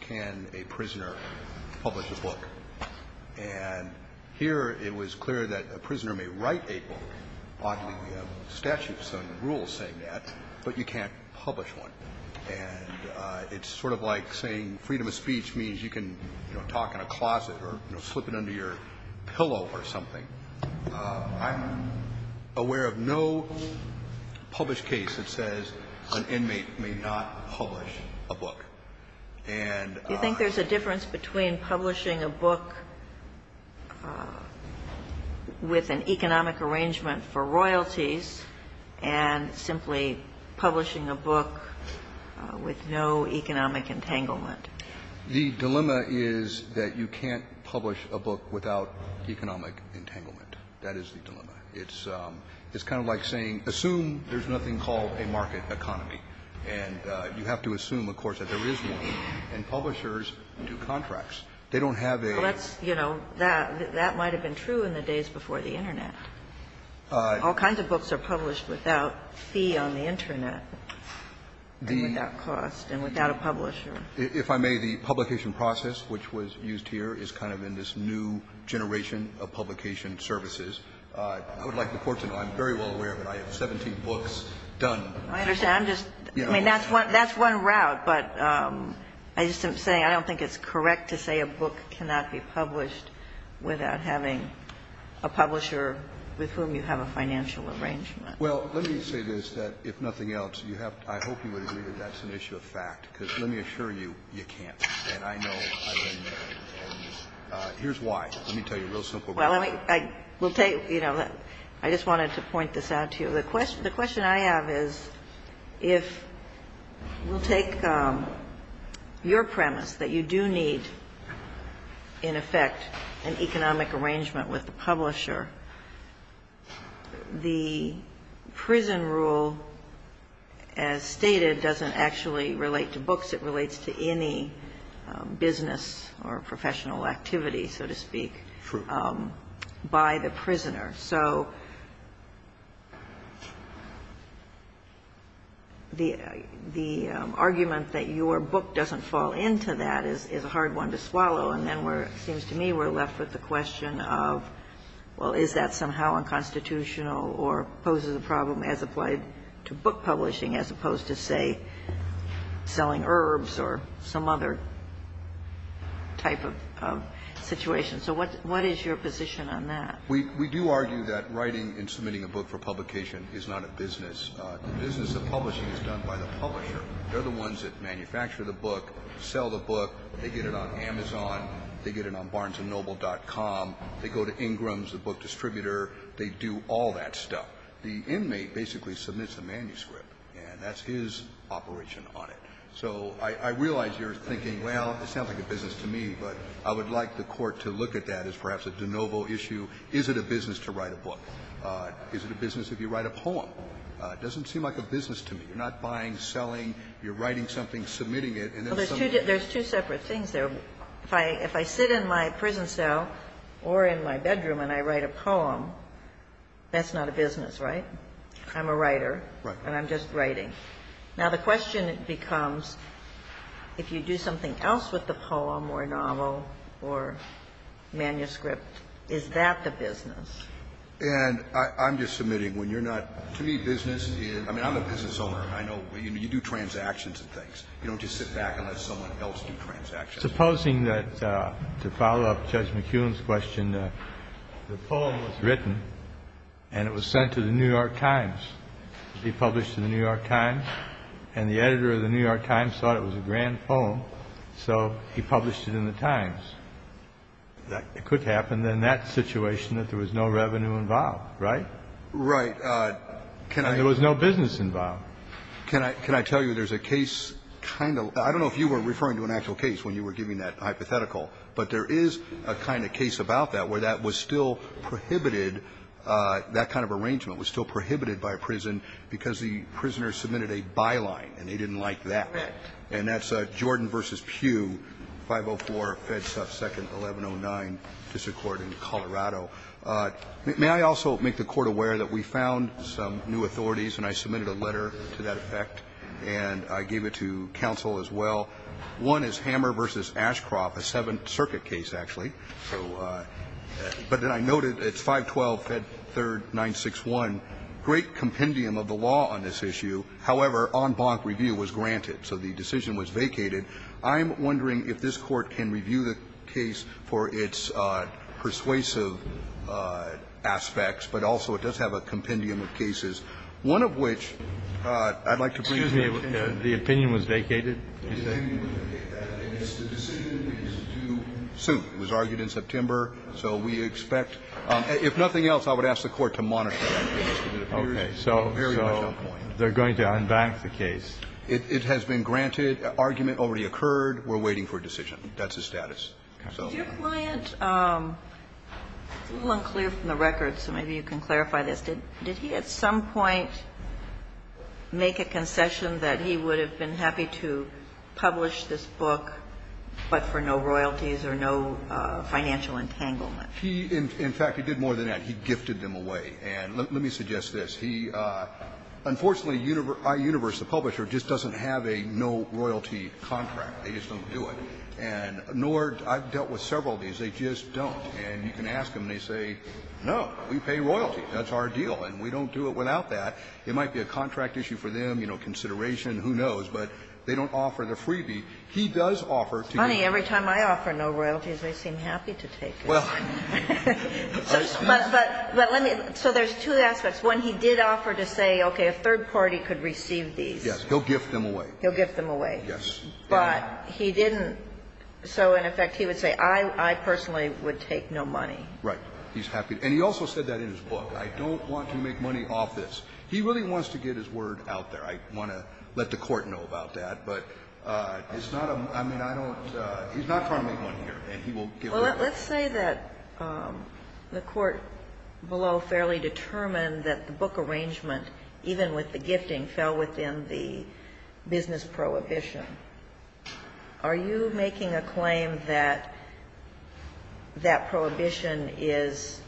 Can a prisoner publish a book? And here, it was clear that a prisoner may write a book. Oddly, we have statutes and rules saying that, but you can't publish one. And it's sort of like saying freedom of speech means you can, you know, talk in a closet or, you know, slip it under your pillow or something. I'm aware of no published case that says an inmate may not publish a book. And the dilemma is that you can't publish a book without economic entanglement. That is the dilemma. It's kind of like saying assume there's nothing called a market economy. And you have to assume, of course, that there is one. And publishers do contracts. They don't have a ---- Kagan. Well, that's, you know, that might have been true in the days before the Internet. All kinds of books are published without fee on the Internet and without cost and without a publisher. If I may, the publication process which was used here is kind of in this new generation of publication services. I would like the Court to know I'm very well aware that I have 17 books done. I understand. I'm just ---- I mean, that's one route. But I just am saying I don't think it's correct to say a book cannot be published without having a publisher with whom you have a financial arrangement. Well, let me say this, that if nothing else, you have to ---- I hope you would agree that that's an issue of fact, because let me assure you, you can't. And I know ---- and here's why. Let me tell you a real simple reason. Well, let me ---- I will tell you, you know, I just wanted to point this out to you. The question I have is if we'll take your premise that you do need, in effect, an economic arrangement with the publisher, the prison rule, as stated, doesn't actually relate to books. It relates to any business or professional activity, so to speak, by the prisoner. So the argument that your book doesn't fall into that is a hard one to swallow. And then we're ---- it seems to me we're left with the question of, well, is that somehow unconstitutional or poses a problem as applied to book publishing, as opposed to, say, selling herbs or some other type of situation. So what is your position on that? We do argue that writing and submitting a book for publication is not a business. The business of publishing is done by the publisher. They're the ones that manufacture the book, sell the book. They get it on Amazon. They get it on BarnesandNoble.com. They go to Ingram's, the book distributor. They do all that stuff. The inmate basically submits a manuscript, and that's his operation on it. So I realize you're thinking, well, it sounds like a business to me, but I would like the Court to look at that as perhaps a de novo issue. Is it a business to write a book? Is it a business if you write a poem? It doesn't seem like a business to me. You're not buying, selling. You're writing something, submitting it, and then somebody else ---- There's two separate things there. If I sit in my prison cell or in my bedroom and I write a poem, that's not a business, right? I'm a writer, and I'm just writing. Now, the question becomes, if you do something else with the poem or novel or manuscript, is that the business? And I'm just submitting, when you're not ---- To me, business is ---- I mean, I'm a business owner. I know you do transactions and things. You don't just sit back and let someone else do transactions. Supposing that, to follow up Judge McKeown's question, the poem was written and it was published in the New York Times, and the editor of the New York Times thought it was a grand poem, so he published it in the Times. It could happen in that situation that there was no revenue involved, right? Right. Can I ---- And there was no business involved. Can I tell you there's a case kind of ---- I don't know if you were referring to an actual case when you were giving that hypothetical, but there is a kind of case about that where that was still prohibited, that kind of arrangement was still prohibited by a prison because the prisoner submitted a byline and they didn't like that. And that's Jordan v. Pew, 504-Fed 2nd, 1109, District Court in Colorado. May I also make the Court aware that we found some new authorities, and I submitted a letter to that effect, and I gave it to counsel as well. One is Hammer v. Ashcroft, a Seventh Circuit case, actually. So, but then I noted it's 512-Fed 3rd, 961, great compendium of the law on this issue. However, en banc review was granted, so the decision was vacated. I'm wondering if this Court can review the case for its persuasive aspects, but also it does have a compendium of cases, one of which I'd like to bring to the Court. The opinion was vacated? The opinion was vacated. The decision is due soon. It was argued in September, so we expect – if nothing else, I would ask the Court to monitor that case. It appears very much on point. They're going to en banc the case. It has been granted. Argument already occurred. We're waiting for a decision. That's the status. Did your client – it's a little unclear from the record, so maybe you can clarify this. Did he at some point make a concession that he would have been happy to publish this book, but for no royalties or no financial entanglement? He – in fact, he did more than that. He gifted them away. And let me suggest this. He – unfortunately, iUniverse, the publisher, just doesn't have a no-royalty contract. They just don't do it. And nor – I've dealt with several of these. They just don't. And you can ask them, and they say, no, we pay royalty. That's our deal. And we don't do it without that. It might be a contract issue for them, you know, consideration, who knows. But they don't offer the freebie. He does offer to give them. Money. Every time I offer no royalties, they seem happy to take it. Well, I suppose. But let me – so there's two aspects. One, he did offer to say, okay, a third party could receive these. Yes. He'll gift them away. He'll gift them away. Yes. But he didn't – so, in effect, he would say, I personally would take no money. Right. He's happy – and he also said that in his book. I don't want to make money off this. He really wants to get his word out there. I want to let the Court know about that. But it's not a – I mean, I don't – he's not trying to make money here. And he won't give them away. Well, let's say that the Court below fairly determined that the book arrangement, even with the gifting, fell within the business prohibition. Are you making a claim that that prohibition is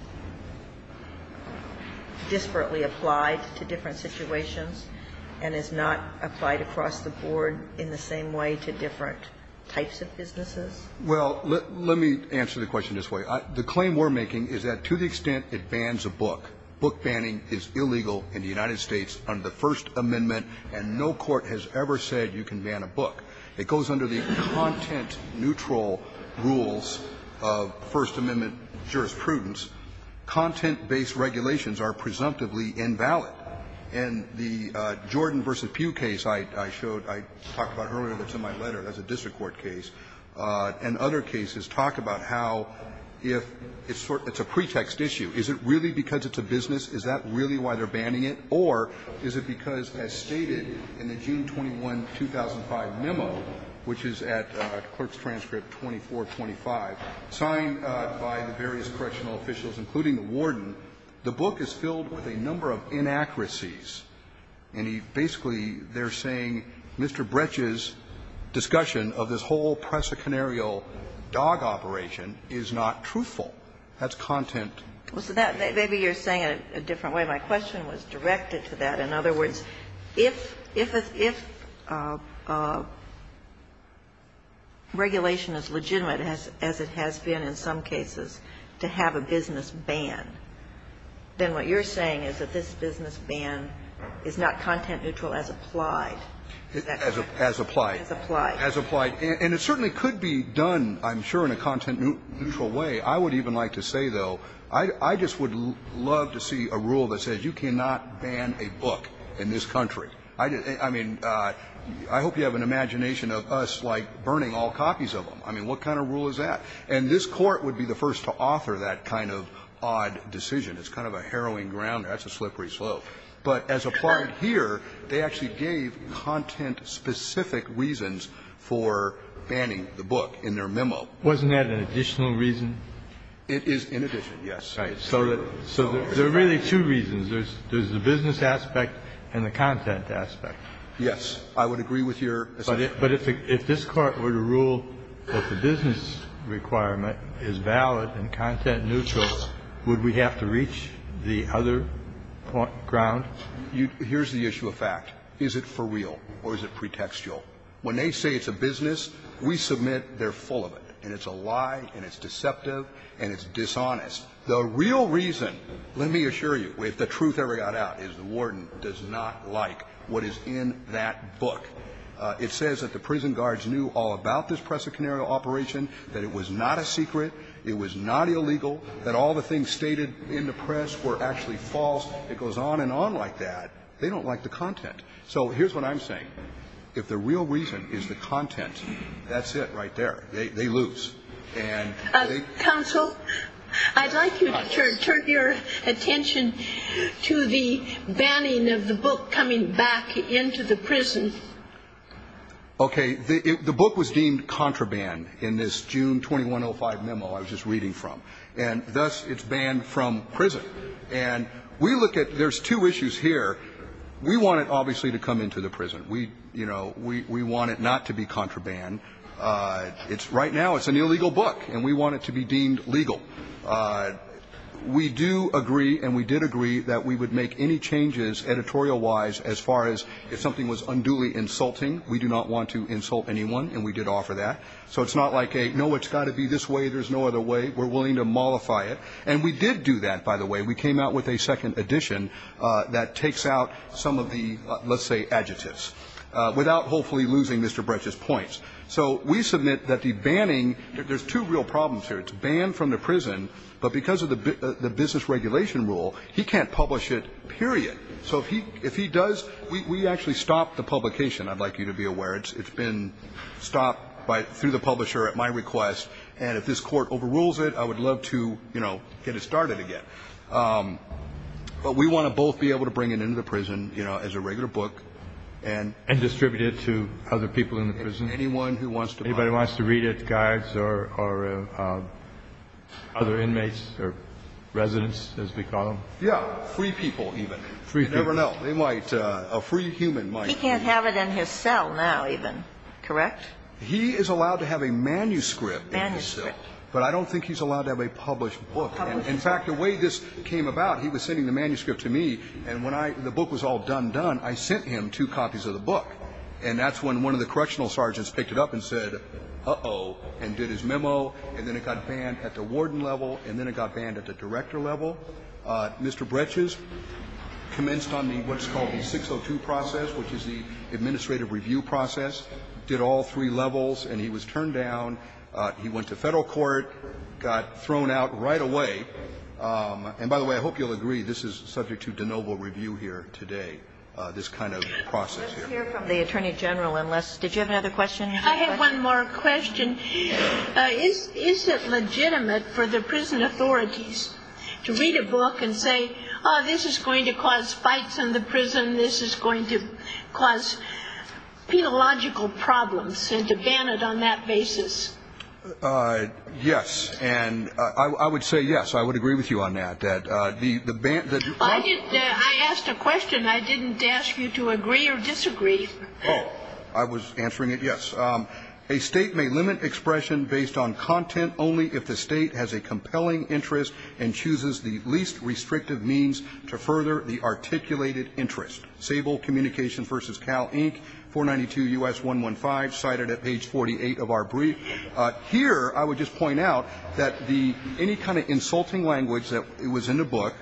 disparately applied to different situations and is not applied across the board in the same way to different types of businesses? Well, let me answer the question this way. The claim we're making is that to the extent it bans a book, book banning is illegal in the United States under the First Amendment, and no court has ever said you can ban a book. It goes under the content-neutral rules of First Amendment jurisprudence. Content-based regulations are presumptively invalid. In the Jordan v. Pugh case I showed – I talked about earlier that's in my letter. That's a district court case. And other cases talk about how if – it's a pretext issue. Is it really because it's a business? Is that really why they're banning it? Or is it because, as stated in the June 21, 2005 memo, which is at Clerk's Transcript 2425, signed by the various correctional officials, including the warden, the book is filled with a number of inaccuracies. And he basically – they're saying Mr. Bretsch's discussion of this whole presicanerial dog operation is not truthful. That's content-neutral. Maybe you're saying it a different way. My question was directed to that. In other words, if regulation is legitimate, as it has been in some cases, to have a business ban, then what you're saying is that this business ban is not content-neutral as applied. Is that correct? As applied. As applied. As applied. And it certainly could be done, I'm sure, in a content-neutral way. I would even like to say, though, I just would love to see a rule that says you cannot ban a book in this country. I mean, I hope you have an imagination of us, like, burning all copies of them. I mean, what kind of rule is that? And this Court would be the first to author that kind of odd decision. It's kind of a harrowing ground. That's a slippery slope. But as applied here, they actually gave content-specific reasons for banning the book in their memo. Wasn't that an additional reason? It is in addition, yes. Right. So there are really two reasons. There's the business aspect and the content aspect. Yes. I would agree with your assumption. But if this Court were to rule that the business requirement is valid and content-neutral, would we have to reach the other ground? Here's the issue of fact. Is it for real or is it pretextual? When they say it's a business, we submit they're full of it. And it's a lie and it's deceptive and it's dishonest. The real reason, let me assure you, if the truth ever got out, is the warden does not like what is in that book. It says that the prison guards knew all about this Presa Canaria operation, that it was not a secret, it was not illegal, that all the things stated in the press were actually false. It goes on and on like that. They don't like the content. So here's what I'm saying. If the real reason is the content, that's it right there. They lose. And they... Counsel, I'd like you to turn your attention to the banning of the book coming back into the prison. Okay. The book was deemed contraband in this June 2105 memo I was just reading from. And thus, it's banned from prison. And we look at, there's two issues here. We want it, obviously, to come into the prison. We, you know, we want it not to be contraband. It's, right now, it's an illegal book, and we want it to be deemed legal. We do agree, and we did agree, that we would make any changes editorial-wise as far as if something was unduly insulting, we do not want to insult anyone, and we did offer that. So it's not like a, no, it's got to be this way, there's no other way. We're willing to mollify it. And we did do that, by the way. We came out with a second edition that takes out some of the, let's say, adjectives, without hopefully losing Mr. Bretsch's points. So we submit that the banning, there's two real problems here. It's banned from the prison, but because of the business regulation rule, he can't publish it, period. So if he does, we actually stop the publication, I'd like you to be aware. It's been stopped by, through the publisher at my request. And if this court overrules it, I would love to, you know, get it started again. But we want to both be able to bring it into the prison, you know, as a regular book, and. And distribute it to other people in the prison. Anyone who wants to buy it. Anybody who wants to read it, guides or other inmates or residents, as we call them. Yeah, free people even. Free people. You never know, they might, a free human might. He can't have it in his cell now even, correct? He is allowed to have a manuscript in his cell. But I don't think he's allowed to have a published book. In fact, the way this came about, he was sending the manuscript to me, and when I, the book was all done done, I sent him two copies of the book. And that's when one of the correctional sergeants picked it up and said, uh-oh. And did his memo, and then it got banned at the warden level, and then it got banned at the director level. Mr. Breches commenced on the, what's called the 602 process, which is the administrative review process. Did all three levels, and he was turned down. He went to federal court, got thrown out right away. And by the way, I hope you'll agree, this is subject to de novo review here today. This kind of process here. Let's hear from the Attorney General, unless, did you have another question? I have one more question. Is it legitimate for the prison authorities to read a book and say, this is going to cause fights in the prison, this is going to cause penological problems, and to ban it on that basis? Yes, and I would say yes. I would agree with you on that, that the, the ban, the- I didn't, I asked a question. I didn't ask you to agree or disagree. Oh, I was answering it, yes. A state may limit expression based on content only if the state has a compelling interest and chooses the least restrictive means to further the articulated interest. Sable Communications versus Cal Inc, 492 US 115, cited at page 48 of our brief. Here, I would just point out that the, any kind of insulting language that was in the book,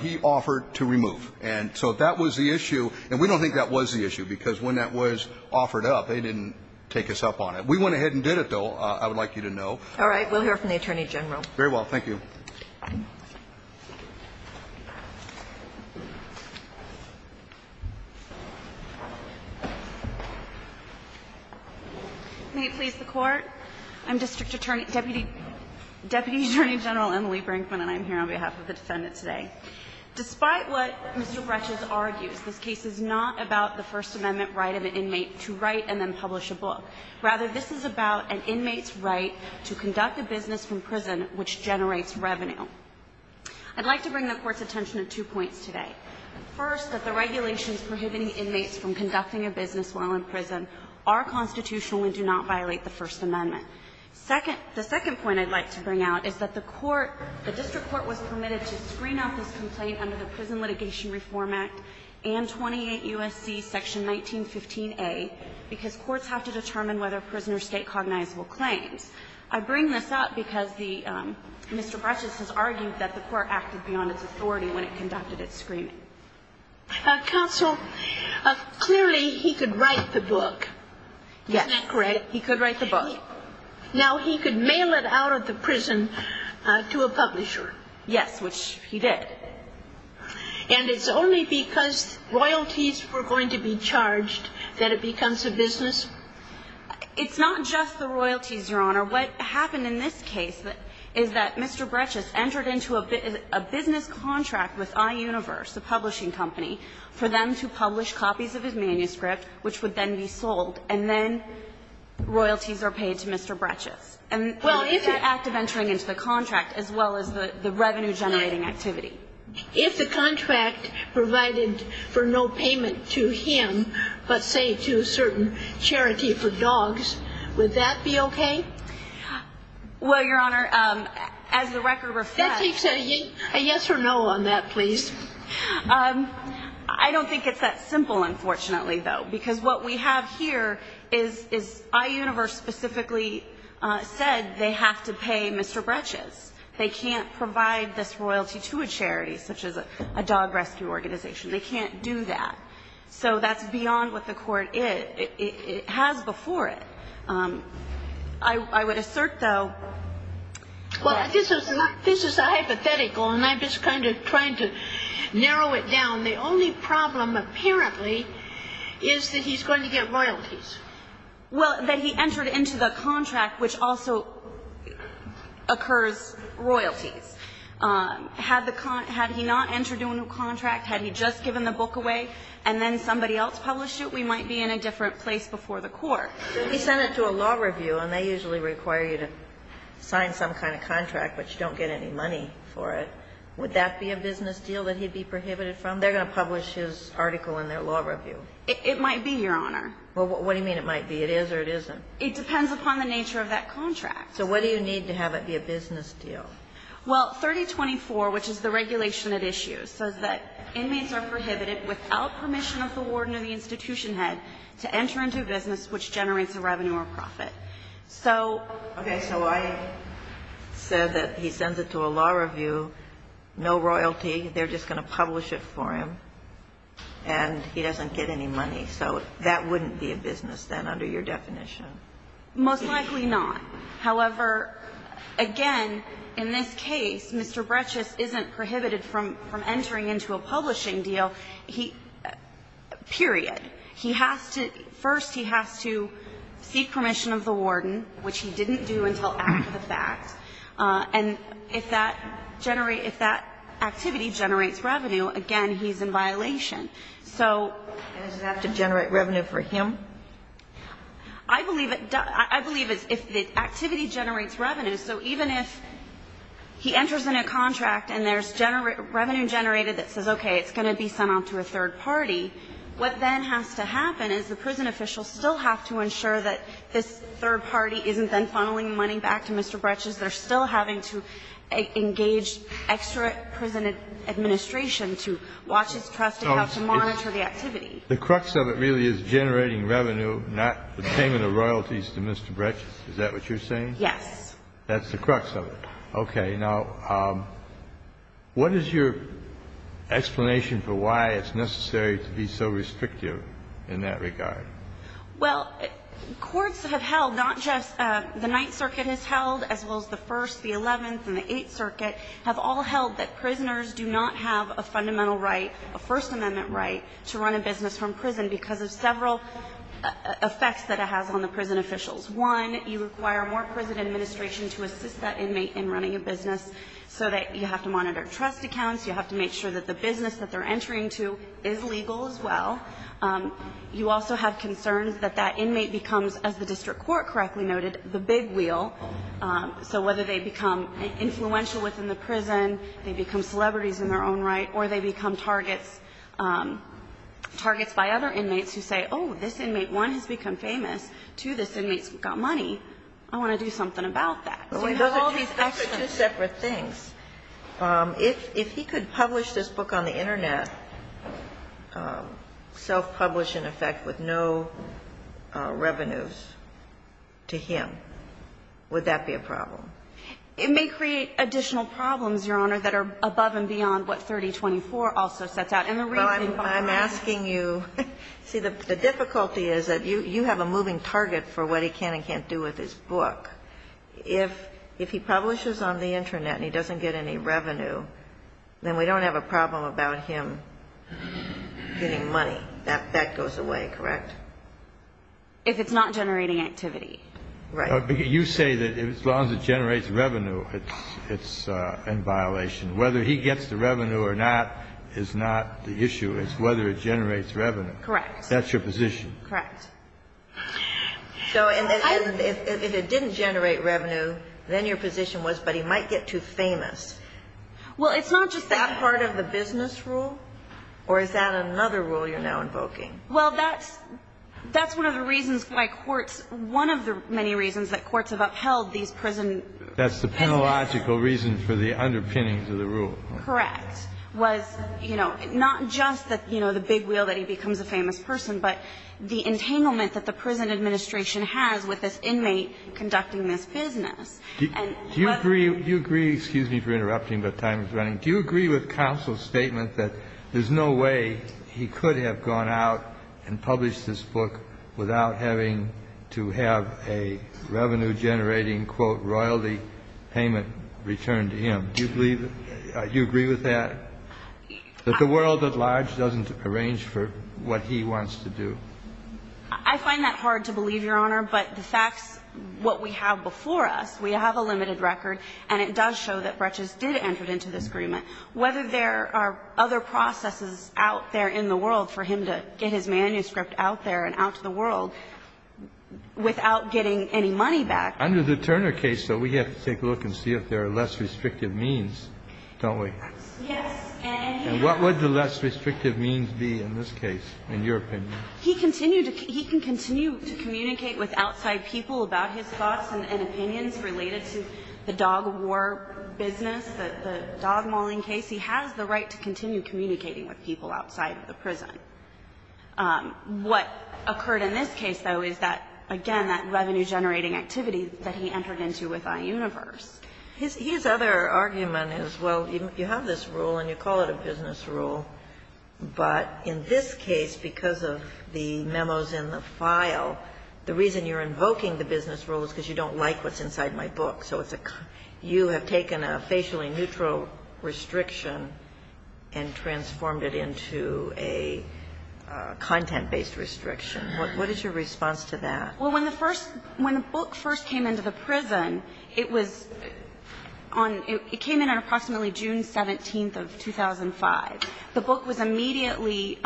he offered to remove. And so that was the issue, and we don't think that was the issue, because when that was offered up, they didn't take us up on it. We went ahead and did it, though, I would like you to know. All right. We'll hear from the Attorney General. Very well. Thank you. Can you please support? I'm District Attorney, Deputy, Deputy Attorney General Emily Brinkman, and I'm here on behalf of the defendant today. Despite what Mr. Bretches argues, this case is not about the First Amendment right of an inmate to write and then publish a book. Rather, this is about an inmate's right to conduct a business from prison, which generates revenue. I'd like to bring the court's attention to two points today. First, that the regulations prohibiting inmates from conducting a business while in prison are constitutional and do not violate the First Amendment. Second, the second point I'd like to bring out is that the court, the district court was permitted to screen out this complaint under the Prison Litigation Reform Act and 28 U.S.C. Section 1915a because courts have to determine whether prisoners state cognizable claims. I bring this up because the Mr. Bretches has argued that the court acted beyond its authority when it conducted its screening. Counsel, clearly he could write the book. Isn't that correct? He could write the book. Now, he could mail it out of the prison to a publisher. Yes, which he did. And it's only because royalties were going to be charged that it becomes a business? It's not just the royalties, Your Honor. What happened in this case is that Mr. Bretches entered into a business contract with iUniverse, a publishing company, for them to publish copies of his manuscript, which would then be sold, and then royalties are paid to Mr. Bretches. And that act of entering into the contract, as well as the revenue-generating activity. If the contract provided for no payment to him but, say, to a certain charity for dogs, would that be okay? Well, Your Honor, as the record reflects, a yes or no on that, please. I don't think it's that simple, unfortunately, though. Because what we have here is iUniverse specifically said they have to pay Mr. Bretches. They can't provide this royalty to a charity, such as a dog rescue organization. They can't do that. So that's beyond what the court has before it. I would assert, though. Well, this is hypothetical, and I'm just kind of trying to narrow it down. The only problem, apparently, is that he's going to get royalties. Well, that he entered into the contract, which also occurs royalties. Had he not entered into a contract, had he just given the book away and then somebody else published it, we might be in a different place before the court. He sent it to a law review, and they usually require you to sign some kind of contract, but you don't get any money for it. Would that be a business deal that he'd be prohibited from? They're going to publish his article in their law review. It might be, Your Honor. Well, what do you mean it might be? It is or it isn't? It depends upon the nature of that contract. So what do you need to have it be a business deal? Well, 3024, which is the regulation at issue, says that inmates are prohibited without permission of the warden or the institution head to enter into a business which generates a revenue or profit. So ‑‑ Okay. So I said that he sends it to a law review, no royalty, they're just going to publish it for him, and he doesn't get any money. So that wouldn't be a business then under your definition? Most likely not. However, again, in this case, Mr. Brechus isn't prohibited from entering into a publishing deal. So he ‑‑ period. He has to ‑‑ first he has to seek permission of the warden, which he didn't do until after the fact. And if that activity generates revenue, again, he's in violation. So ‑‑ Does it have to generate revenue for him? I believe it does. I believe if the activity generates revenue, so even if he enters in a contract and there's revenue generated that says, okay, it's going to be sent out to a third party, what then has to happen is the prison officials still have to ensure that this third party isn't then funneling money back to Mr. Brechus. They're still having to engage extra prison administration to watch his trust accounts and monitor the activity. The crux of it really is generating revenue, not the payment of royalties to Mr. Brechus. Is that what you're saying? Yes. That's the crux of it. Okay. Now, what is your explanation for why it's necessary to be so restrictive in that regard? Well, courts have held not just ‑‑ the Ninth Circuit has held as well as the First, the Eleventh, and the Eighth Circuit have all held that prisoners do not have a fundamental right, a First Amendment right, to run a business from prison because of several effects that it has on the prison officials. One, you require more prison administration to assist that inmate in running a business so that you have to monitor trust accounts, you have to make sure that the business that they're entering to is legal as well. You also have concerns that that inmate becomes, as the district court correctly noted, the big wheel. So whether they become influential within the prison, they become celebrities in their own right, or they become targets by other inmates who say, oh, this inmate, one, has become famous, two, this inmate's got money, I want to do something about that. So you have all these ‑‑ Those are two separate things. If he could publish this book on the Internet, self-publish, in effect, with no revenues to him, would that be a problem? It may create additional problems, Your Honor, that are above and beyond what 3024 also sets out. And the reasoning behind ‑‑ I'm asking you ‑‑ see, the difficulty is that you have a moving target for what he can and can't do with his book. If he publishes on the Internet and he doesn't get any revenue, then we don't have a problem about him getting money. That goes away, correct? If it's not generating activity. Right. You say that as long as it generates revenue, it's in violation. Whether he gets the revenue or not is not the issue. It's whether it generates revenue. Correct. That's your position. Correct. So if it didn't generate revenue, then your position was, but he might get too famous. Well, it's not just that part of the business rule, or is that another rule you're now invoking? Well, that's one of the reasons why courts ‑‑ one of the many reasons that courts have upheld these prison ‑‑ That's the penalogical reason for the underpinnings of the rule. Correct. Was, you know, not just that, you know, the big wheel that he becomes a famous person, but the entanglement that the prison administration has with this inmate conducting this business. Do you agree ‑‑ do you agree, excuse me for interrupting, but time is running. Do you agree with counsel's statement that there's no way he could have gone out and published this book without having to have a revenue‑generating, quote, royalty payment returned to him? Do you believe ‑‑ do you agree with that? That the world at large doesn't arrange for what he wants to do? I find that hard to believe, Your Honor, but the facts, what we have before us, we have a limited record, and it does show that Breches did enter into this agreement. Whether there are other processes out there in the world for him to get his manuscript out there and out to the world without getting any money back. Under the Turner case, though, we have to take a look and see if there are less restrictive means, don't we? Yes. And what would the less restrictive means be in this case, in your opinion? He continued to ‑‑ he can continue to communicate with outside people about his thoughts and opinions related to the dog war business, the dog mauling case. He has the right to continue communicating with people outside of the prison. What occurred in this case, though, is that, again, that revenue‑generating activity that he entered into with iUniverse. His other argument is, well, you have this rule and you call it a business rule, but in this case, because of the memos in the file, the reason you're invoking the business rule is because you don't like what's inside my book. So it's a ‑‑ you have taken a facially neutral restriction and transformed it into a content‑based restriction. What is your response to that? Well, when the first ‑‑ when the book first came into the prison, it was on ‑‑ it came in on approximately June 17th of 2005. The book was immediately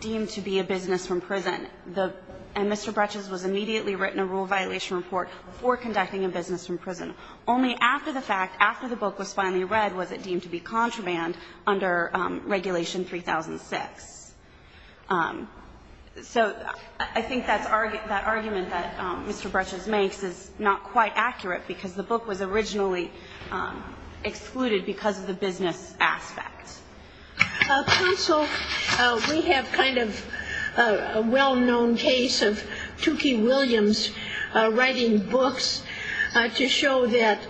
deemed to be a business from prison. And Mr. Bretsch's was immediately written a rule violation report for conducting a business from prison. Only after the fact, after the book was finally read, was it deemed to be contraband under regulation 3006. So I think that argument that Mr. Bretsch's makes is not quite accurate because the book was originally excluded because of the business aspect. Counsel, we have kind of a well‑known case of Tukey Williams writing books to show that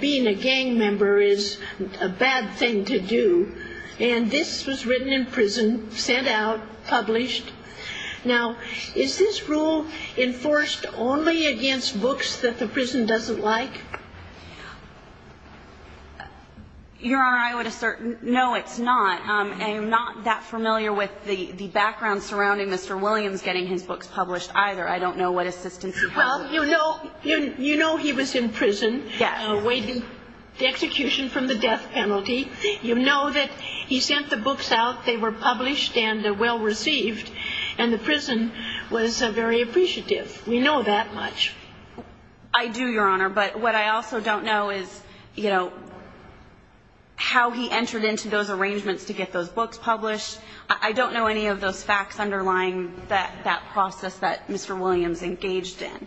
being a gang member is a bad thing to do. And this was written in prison, sent out, published. Now, is this rule enforced only against books that the prison doesn't like? Your Honor, I would assert no, it's not. I am not that familiar with the background surrounding Mr. Williams getting his books published either. I don't know what assistance you have. Well, you know he was in prison awaiting the execution from the death penalty. You know that he sent the books out. They were published and well received. And the prison was very appreciative. We know that much. I do, Your Honor. But what I also don't know is, you know, how he entered into those arrangements to get those books published. I don't know any of those facts underlying that process that Mr. Williams engaged in.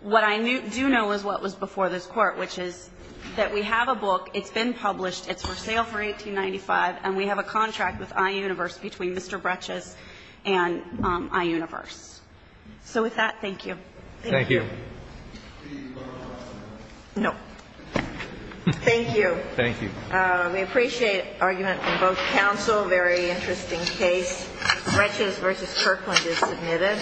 What I do know is what was before this Court, which is that we have a book. It's been published. It's for sale for $1895. And we have a contract with iUniverse between Mr. Bretsch's and iUniverse. So with that, thank you. Thank you. No. Thank you. Thank you. We appreciate argument from both counsel. Very interesting case. Bretsch's v. Kirkland is submitted.